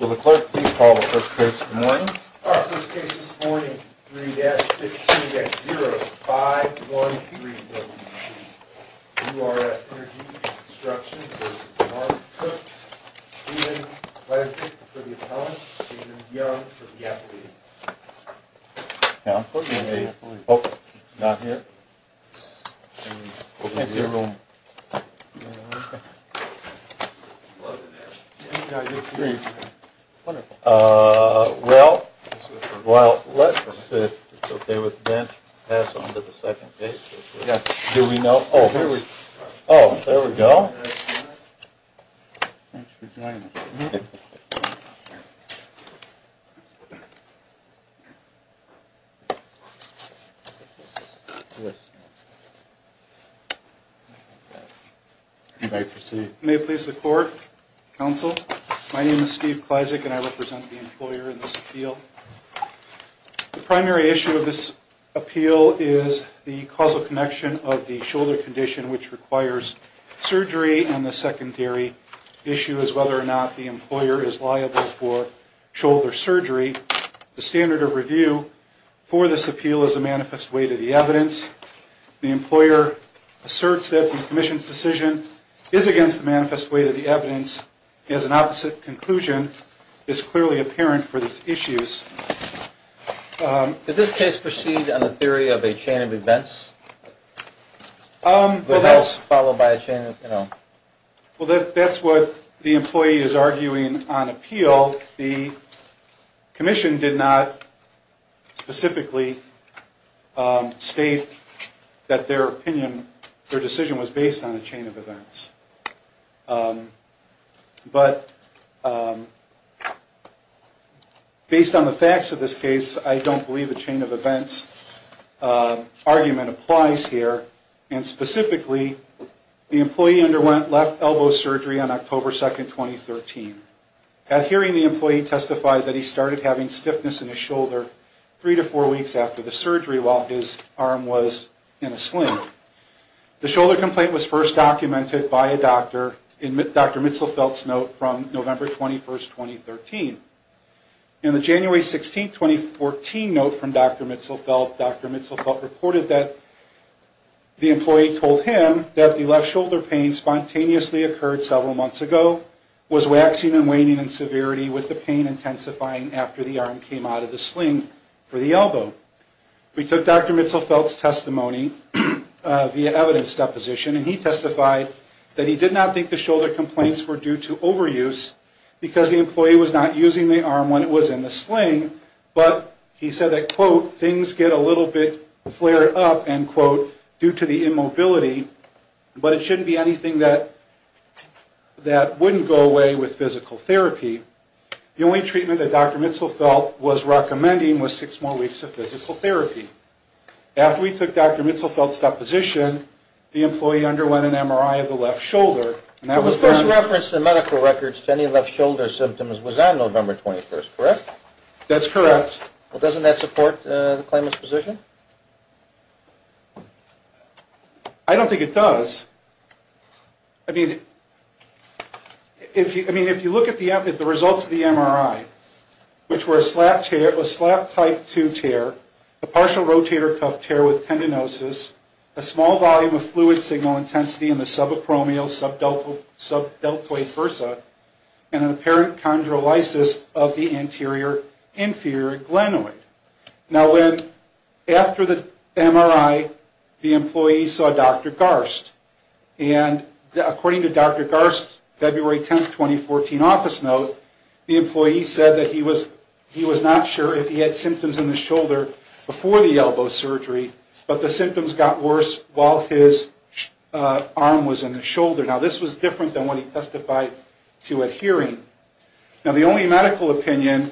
Will the clerk please call the first case of the morning? All right. First case this morning, 3-15-0513WC. URS Energy &amp Construction v. Mark Cook, Stephen Klesnik for the appellant, Stephen Young for the appellee. Counselor? Hey. Oh, not here. Can't see a room. Wonderful. Well, let's see if it's okay with Ben to pass on to the second case. Yes. Do we know? Oh, there we go. Thanks for joining us. Thank you. May it please the court? Counsel? My name is Steve Klesnik and I represent the employer in this appeal. The primary issue of this appeal is the causal connection of the shoulder condition, which requires surgery. And the secondary issue is whether or not the employer is liable for shoulder surgery. The standard of review for this appeal is the manifest weight of the evidence. The employer asserts that the commission's decision is against the manifest weight of the evidence. He has an opposite conclusion. It's clearly apparent for these issues. Did this case proceed on the theory of a chain of events? Well, that's what the employee is arguing on appeal. The commission did not specifically state that their opinion, their decision was based on a chain of events. But based on the facts of this case, I don't believe a chain of events argument applies here. And specifically, the employee underwent left elbow surgery on October 2nd, 2013. At hearing, the employee testified that he started having stiffness in his shoulder three to four weeks after the surgery The shoulder complaint was first documented by a doctor in Dr. Mitzelfeldt's note from November 21st, 2013. In the January 16th, 2014 note from Dr. Mitzelfeldt, Dr. Mitzelfeldt reported that the employee told him that the left shoulder pain spontaneously occurred several months ago, was waxing and waning in severity with the pain intensifying after the arm came out of the sling for the elbow. We took Dr. Mitzelfeldt's testimony via evidence deposition and he testified that he did not think the shoulder complaints were due to overuse because the employee was not using the arm when it was in the sling. But he said that, quote, things get a little bit flared up, end quote, due to the immobility. But it shouldn't be anything that wouldn't go away with physical therapy. The only treatment that Dr. Mitzelfeldt was recommending was six more weeks of physical therapy. After we took Dr. Mitzelfeldt's deposition, the employee underwent an MRI of the left shoulder. The first reference in medical records to any left shoulder symptoms was on November 21st, correct? That's correct. Well, doesn't that support the claimant's position? I don't think it does. I mean, if you look at the results of the MRI, which were a slap type two tear, a partial rotator cuff tear with tendinosis, a small volume of fluid signal intensity in the subacromial, subdeltoid versa, and an apparent chondrolysis of the anterior inferior glenoid. Now, after the MRI, the employee saw Dr. Garst. And according to Dr. Garst's February 10th, 2014 office note, the employee said that he was not sure if he had symptoms in the shoulder before the elbow surgery, but the symptoms got worse while his arm was in the shoulder. Now, this was different than what he testified to at hearing. Now, the only medical opinion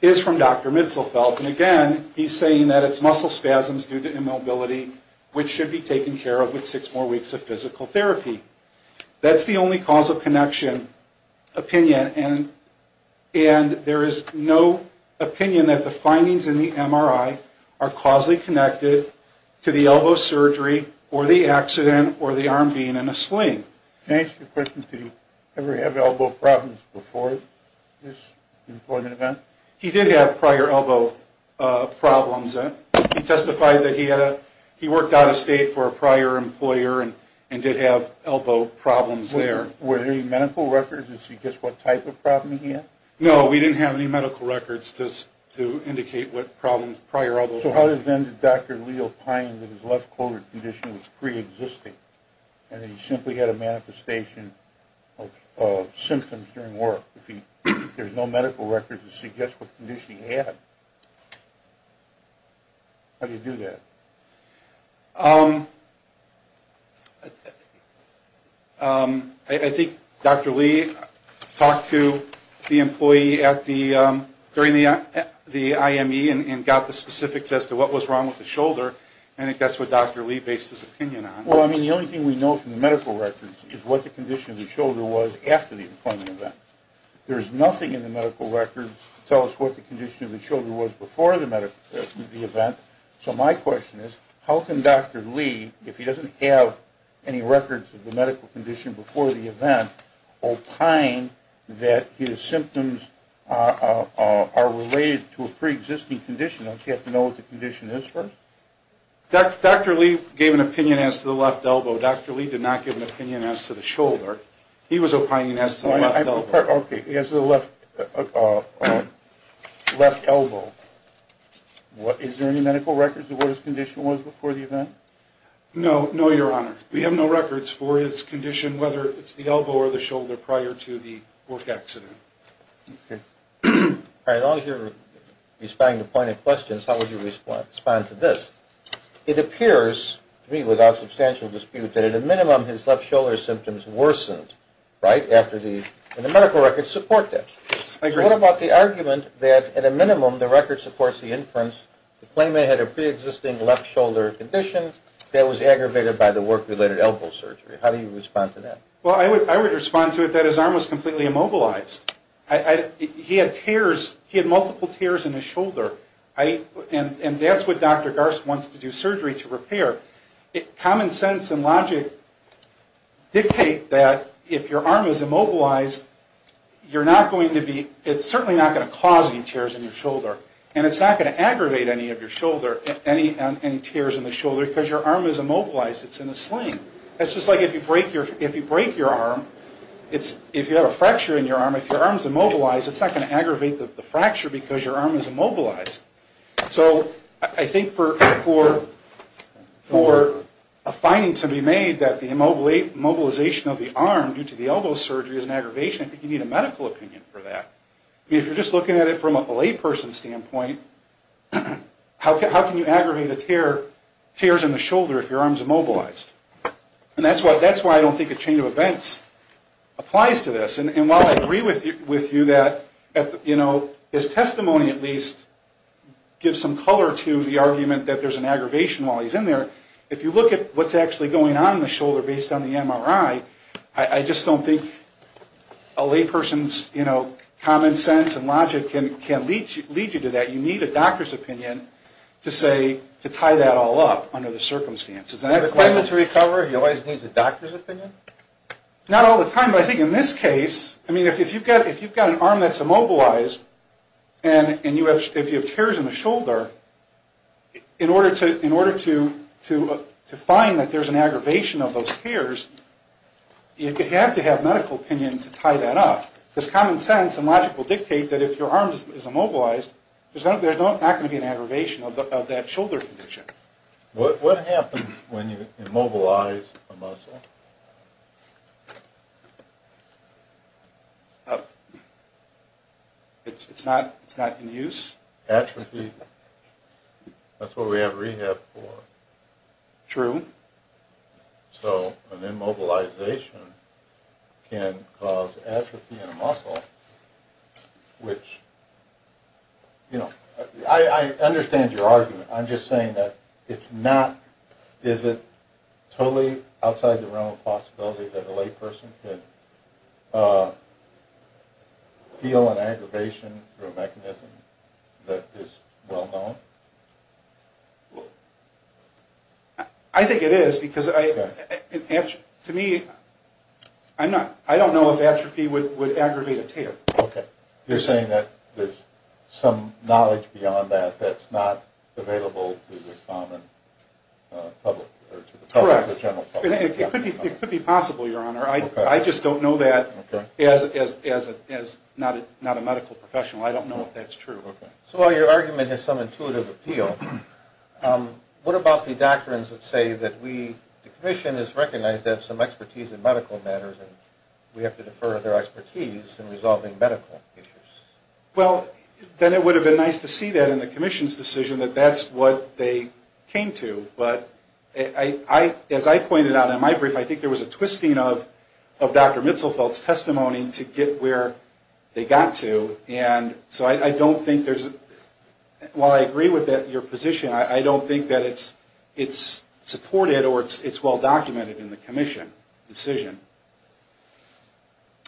is from Dr. Mitzelfeld, and again, he's saying that it's muscle spasms due to immobility, which should be taken care of with six more weeks of physical therapy. That's the only cause of connection opinion, and there is no opinion that the findings in the MRI are causally connected to the elbow surgery or the accident or the arm being in a sling. Can I ask you a question? Did he ever have elbow problems before this employment event? He did have prior elbow problems. He testified that he worked out of state for a prior employer and did have elbow problems there. Were there any medical records that suggest what type of problem he had? No, we didn't have any medical records to indicate what problems prior elbow was. So how then did Dr. Leo Pine, that his left shoulder condition was preexisting, and that he simply had a manifestation of symptoms during work? If there's no medical records to suggest what condition he had, how did he do that? I think Dr. Lee talked to the employee during the IME and got the specifics as to what was wrong with the shoulder, and I think that's what Dr. Lee based his opinion on. Well, I mean, the only thing we know from the medical records is what the condition of the shoulder was after the employment event. There's nothing in the medical records to tell us what the condition of the shoulder was before the employment event, opine that his symptoms are related to a preexisting condition. Don't you have to know what the condition is first? Dr. Lee gave an opinion as to the left elbow. Dr. Lee did not give an opinion as to the shoulder. He was opining as to the left elbow. Is there any medical records as to what his condition was before the event? No, no, Your Honor. We have no records for his condition, whether it's the elbow or the shoulder, prior to the work accident. As long as you're responding to pointed questions, how would you respond to this? It appears to me without substantial dispute that at a minimum his left shoulder symptoms worsened, right, after the medical records support that. I agree. What about the argument that at a minimum the records support the inference to claim they had a preexisting left shoulder condition that was aggravated by the work-related elbow surgery? How do you respond to that? Well, I would respond to it that his arm was completely immobilized. He had tears, he had multiple tears in his shoulder. And that's what Dr. Garst wants to do surgery to repair. Common sense and logic dictate that if your arm is immobilized, you're not going to be, it's certainly not going to cause any tears in your shoulder. And it's not going to aggravate any of your shoulder, any tears in the shoulder, because your arm is immobilized, it's in a sling. It's just like if you break your arm, if you have a fracture in your arm, if your arm is immobilized, it's not going to aggravate the fracture because your arm is immobilized. So I think for a finding to be made that the immobilization of the arm due to the elbow surgery is an aggravation, I think you need a medical opinion for that. I mean, if you're just looking at it from a layperson's standpoint, how can you aggravate a tear, tears in the shoulder if your arm is immobilized? And that's why I don't think a chain of events applies to this. And while I agree with you that, you know, his testimony at least gives some color to the argument that there's an aggravation while he's in there, if you look at what's actually going on in the shoulder based on the MRI, I just don't think a layperson's, you know, common sense and logic can lead you to that. You need a doctor's opinion to say, to tie that all up under the circumstances. Do you have a claimant to recover? He always needs a doctor's opinion? Not all the time, but I think in this case, I mean, if you've got an arm that's immobilized and you have tears in the shoulder, you need a medical opinion to tie that up. Because common sense and logic will dictate that if your arm is immobilized, there's not going to be an aggravation of that shoulder condition. What happens when you immobilize a muscle? It's not in use? Atrophy. That's what we have rehab for. True. So an immobilization can cause atrophy in a muscle, which, you know, I understand your argument, I'm just saying that it's not, is it totally outside the realm of possibility that a layperson could feel an aggravation through a mechanism that is well known? I think it is, because to me, I don't know if atrophy would aggravate a tear. You're saying that there's some knowledge beyond that that's not available to the general public. It could be possible, Your Honor. I just don't know that as not a medical professional. I don't know if that's true. So while your argument has some intuitive appeal, what about the doctrines that say that the commission is recognized to have some expertise in medical matters and we have to defer their expertise in resolving medical issues? Well, then it would have been nice to see that in the commission's decision that that's what they came to. But as I pointed out in my brief, I think there was a twisting of Dr. Mitzelfeld's testimony to get where they got to, and so I don't think there's, while I agree with your position, I don't think that it's supported or it's well documented in the commission's decision.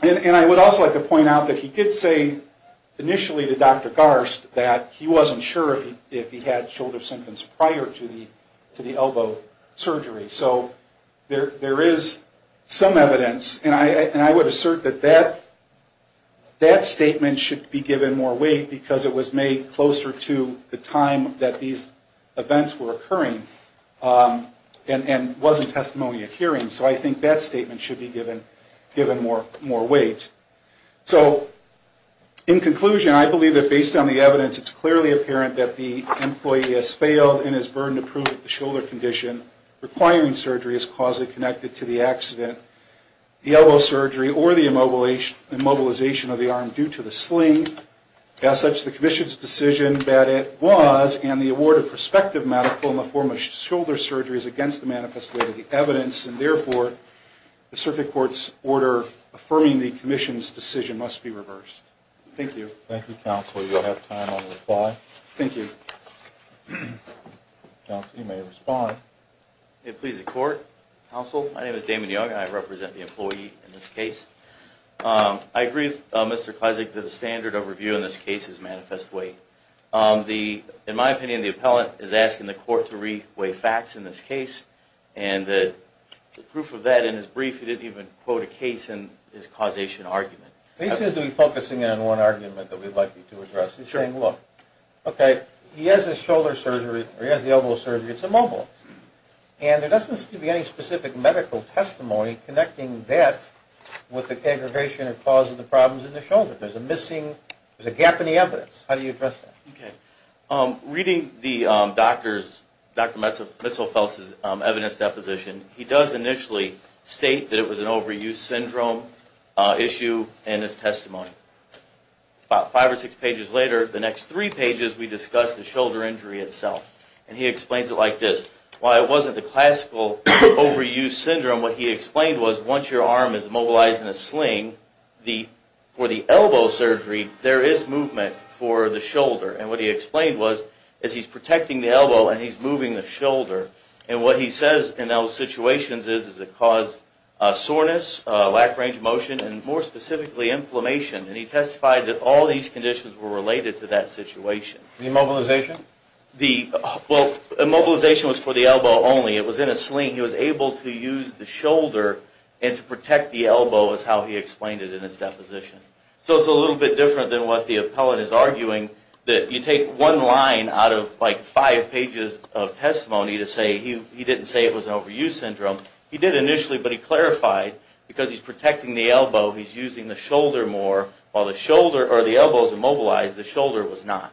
And I would also like to point out that he did say initially to Dr. Garst that he wasn't sure if he had shoulder symptoms prior to the elbow surgery. So there is some evidence, and I would assert that that statement should be given more weight because it was made closer to the time that these events were occurring and wasn't testimony occurring. So I think that statement should be given more weight. So in conclusion, I believe that based on the evidence, it's clearly apparent that the employee has failed and is burdened to prove the shoulder condition requiring surgery is causally connected to the accident, the elbow surgery, or the immobilization of the arm due to the sling, as such the commission's decision that it was, and the award of prospective medical in the form of shoulder surgery is against the manifest way of the evidence, and therefore the circuit court's order affirming the commission's decision must be reversed. Thank you. Thank you, counsel. You'll have time on the reply. Thank you. Counsel, you may respond. May it please the court? Counsel, my name is Damon Young, and I represent the employee in this case. I agree with Mr. Kleszek that the standard of review in this case is manifest weight. In my opinion, the appellant is asking the court to re-weigh facts in this case, and the proof of that in his brief, he didn't even quote a case in his causation argument. He seems to be focusing in on one argument that we'd like you to address. He's saying, look, okay, he has his shoulder surgery, or he has the elbow surgery, it's immobile. And there doesn't seem to be any specific medical testimony connecting that with the aggravation or cause of the problems in the shoulder. There's a missing, there's a gap in the evidence. How do you address that? Okay. Reading the doctor's, Dr. Mitzelfels' evidence deposition, he does initially state that it was an overuse syndrome issue in his testimony. About five or six pages later, the next three pages, we discuss the shoulder injury itself. And he explains it like this. While it wasn't the classical overuse syndrome, what he explained was, once your arm is immobilized in a sling, for the elbow surgery, there is movement for the shoulder. And what he explained was, as he's protecting the elbow and he's moving the shoulder, and what he says in those situations is, is it caused soreness, lack range of motion, and more specifically, inflammation. And he testified that all these conditions were related to that situation. Immobilization? Well, immobilization was for the elbow only. It was in a sling. He was able to use the shoulder and to protect the elbow is how he explained it in his deposition. So it's a little bit different than what the appellant is arguing, that you take one line out of like five pages of testimony to say he didn't say it was an overuse syndrome. He did initially, but he clarified, because he's protecting the elbow, he's using the shoulder more. While the shoulder, or the elbow is immobilized, the shoulder was not.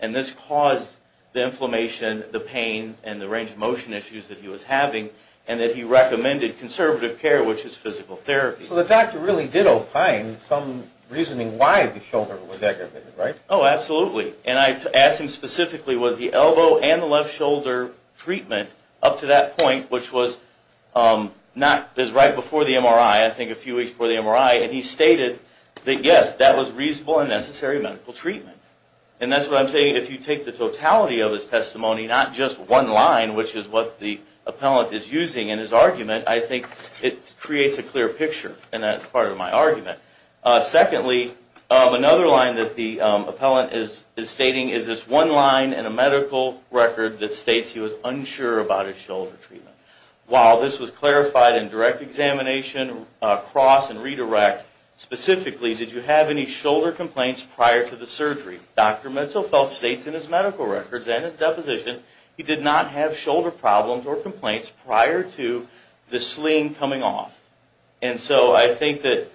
And this caused the inflammation, the pain, and the range of motion issues that he was having, and that he recommended conservative care, which is physical therapy. So the doctor really did opine some reasoning why the shoulder was aggravated, right? Oh, absolutely. And I asked him specifically, was the elbow and the left shoulder treatment up to that point, which was right before the MRI, I think a few weeks before the MRI, and he stated that yes, that was reasonable and necessary medical treatment. And that's what I'm saying, if you take the totality of his testimony, not just one line, which is what the appellant is using in his argument, I think it creates a clear picture, and that's part of my argument. Secondly, another line that the appellant is stating is this one line in a medical record that states he was unsure about his shoulder treatment. While this was clarified in direct examination, cross, and redirect, specifically, did you have any shoulder complaints prior to the surgery? Dr. Mitselfeld states in his medical records and his deposition, he did not have shoulder problems or complaints prior to the sling coming off. And so I think that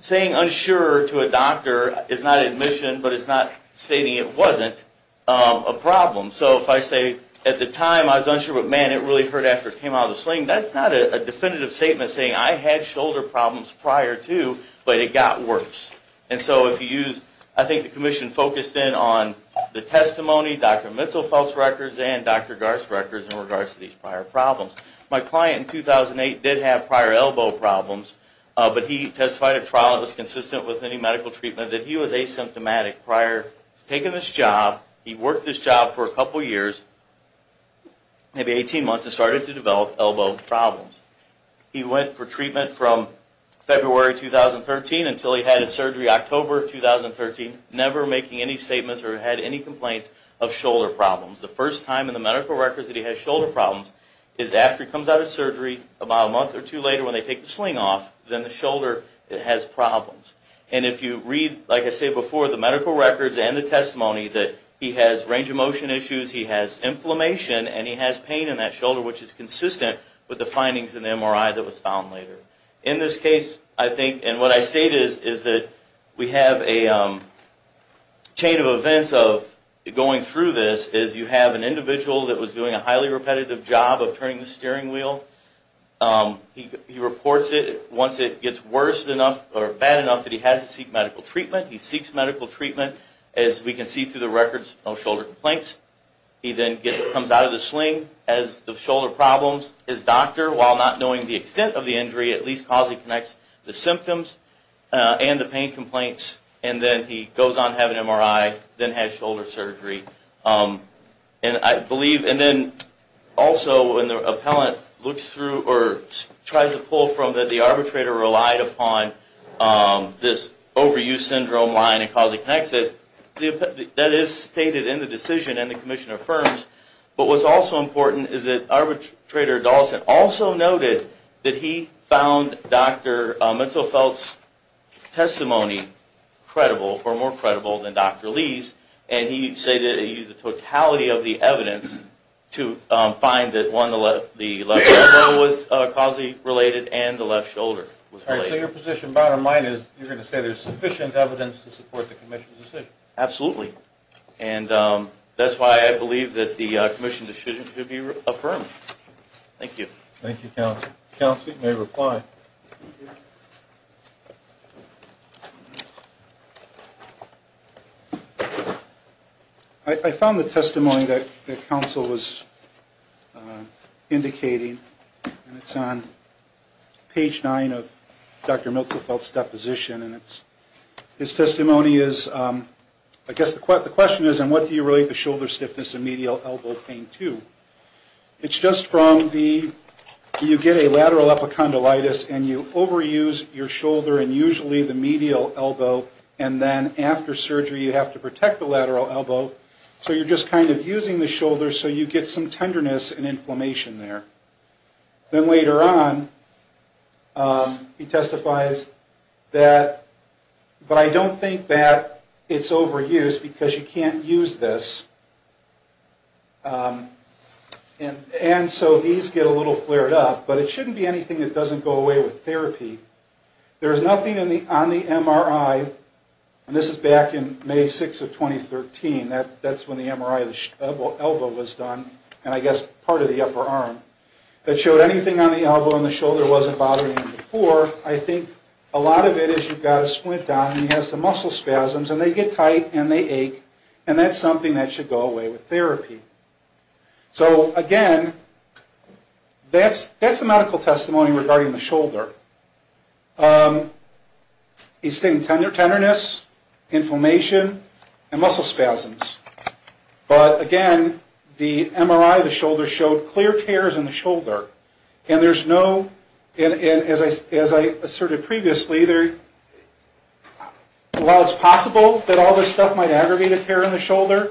saying unsure to a doctor is not admission, but it's not stating it wasn't a problem. So if I say at the time I was unsure, but man, it really hurt after it came out of the sling, that's not a definitive statement saying I had shoulder problems prior to, but it got worse. And so if you use, I think the commission focused in on the testimony, Dr. Mitselfeld's records and Dr. Garst's records in regards to these prior problems. My client in 2008 did have prior elbow problems, but he testified at trial that was consistent with any medical treatment, that he was asymptomatic prior to taking this job. He worked this job for a couple years, maybe 18 months, and started to develop elbow problems. He went for treatment from February 2013 until he had his surgery October 2013, never making any statements or had any complaints of shoulder problems. The first time in the medical records that he had shoulder problems is after he comes out of surgery, about a month or two later when they take the sling off, then the shoulder has problems. And if you read, like I said before, the medical records and the testimony that he has range of motion issues, he has inflammation, and he has pain in that shoulder, which is consistent with the findings in the MRI that was found later. In this case, I think, and what I state is that we have a chain of events of going through this, is you have an appellant that gets worse enough or bad enough that he has to seek medical treatment. He seeks medical treatment, as we can see through the records, no shoulder complaints. He then comes out of the sling, has shoulder problems. His doctor, while not knowing the extent of the injury, at least calls and connects the symptoms and the pain complaints, and then he goes on to have an MRI, then has shoulder surgery. And I believe, and then also when the appellant looks through or tries to pull from that the arbitrator relied upon this overuse syndrome line and calls and connects it, that is stated in the decision and the commission affirms. But what's also important is that arbitrator Dawson also noted that he found Dr. Mintz-O-Felt's testimony credible, or more credible than Dr. Lee's, and he stated he used the totality of the evidence to find that one, the left elbow was causally related and the left shoulder was related. So your position, bottom line, is you're going to say there's sufficient evidence to support the commission's decision? Absolutely. And that's why I believe that the commission decision should be affirmed. Thank you. Thank you, counsel. Counsel, you may reply. I found the testimony that counsel was indicating, and it's on page 9 of Dr. Mintz-O-Felt's deposition, and his testimony is, I guess the question is, and what do you relate the shoulder stiffness and medial elbow pain to? It's just from the, you get a lateral epicondylitis and you overuse your shoulder, and usually the medial elbow, and then after surgery you have to protect the lateral elbow, so you're just kind of using the shoulder so you get some tenderness and inflammation there. Then later on, he testifies that, but I don't think that it's overuse because you can't use this, and so these get a little flared up, but it shouldn't be anything that doesn't go away with therapy. There's nothing on the MRI, and this is back in May 6th of 2013, that's when the MRI of the elbow was done, and I guess part of the upper arm, that showed anything on the elbow and the shoulder wasn't bothering him before. I think a lot of it is you've got a splint on and he has some muscle spasms, and they get tight and they ache, and that's something that should go away with therapy. So again, that's the medical testimony regarding the shoulder. He's taking tenderness, inflammation, and muscle spasms, but again, the MRI of the shoulder showed clear tears in the shoulder, and there's no, as I asserted previously, while it's possible that all this stuff might aggravate a tear in the shoulder,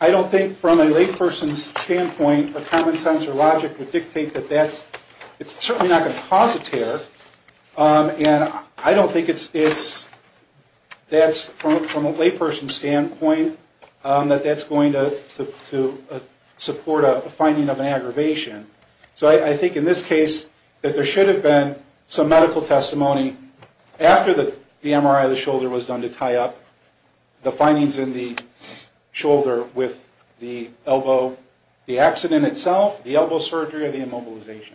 I don't think from a layperson's standpoint or common sense or logic would dictate that that's, it's certainly not going to cause a tear, and I don't think it's, that's from a layperson's standpoint, that that's going to support a finding of an aggravation. So I think in this case, that there should have been some improvement in the shoulder with the elbow, the accident itself, the elbow surgery, or the immobilization.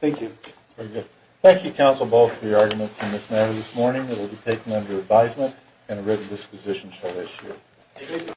Thank you. Very good. Thank you, counsel, both for your arguments on this matter this morning. It will be taken under advisement and a written disposition shall issue.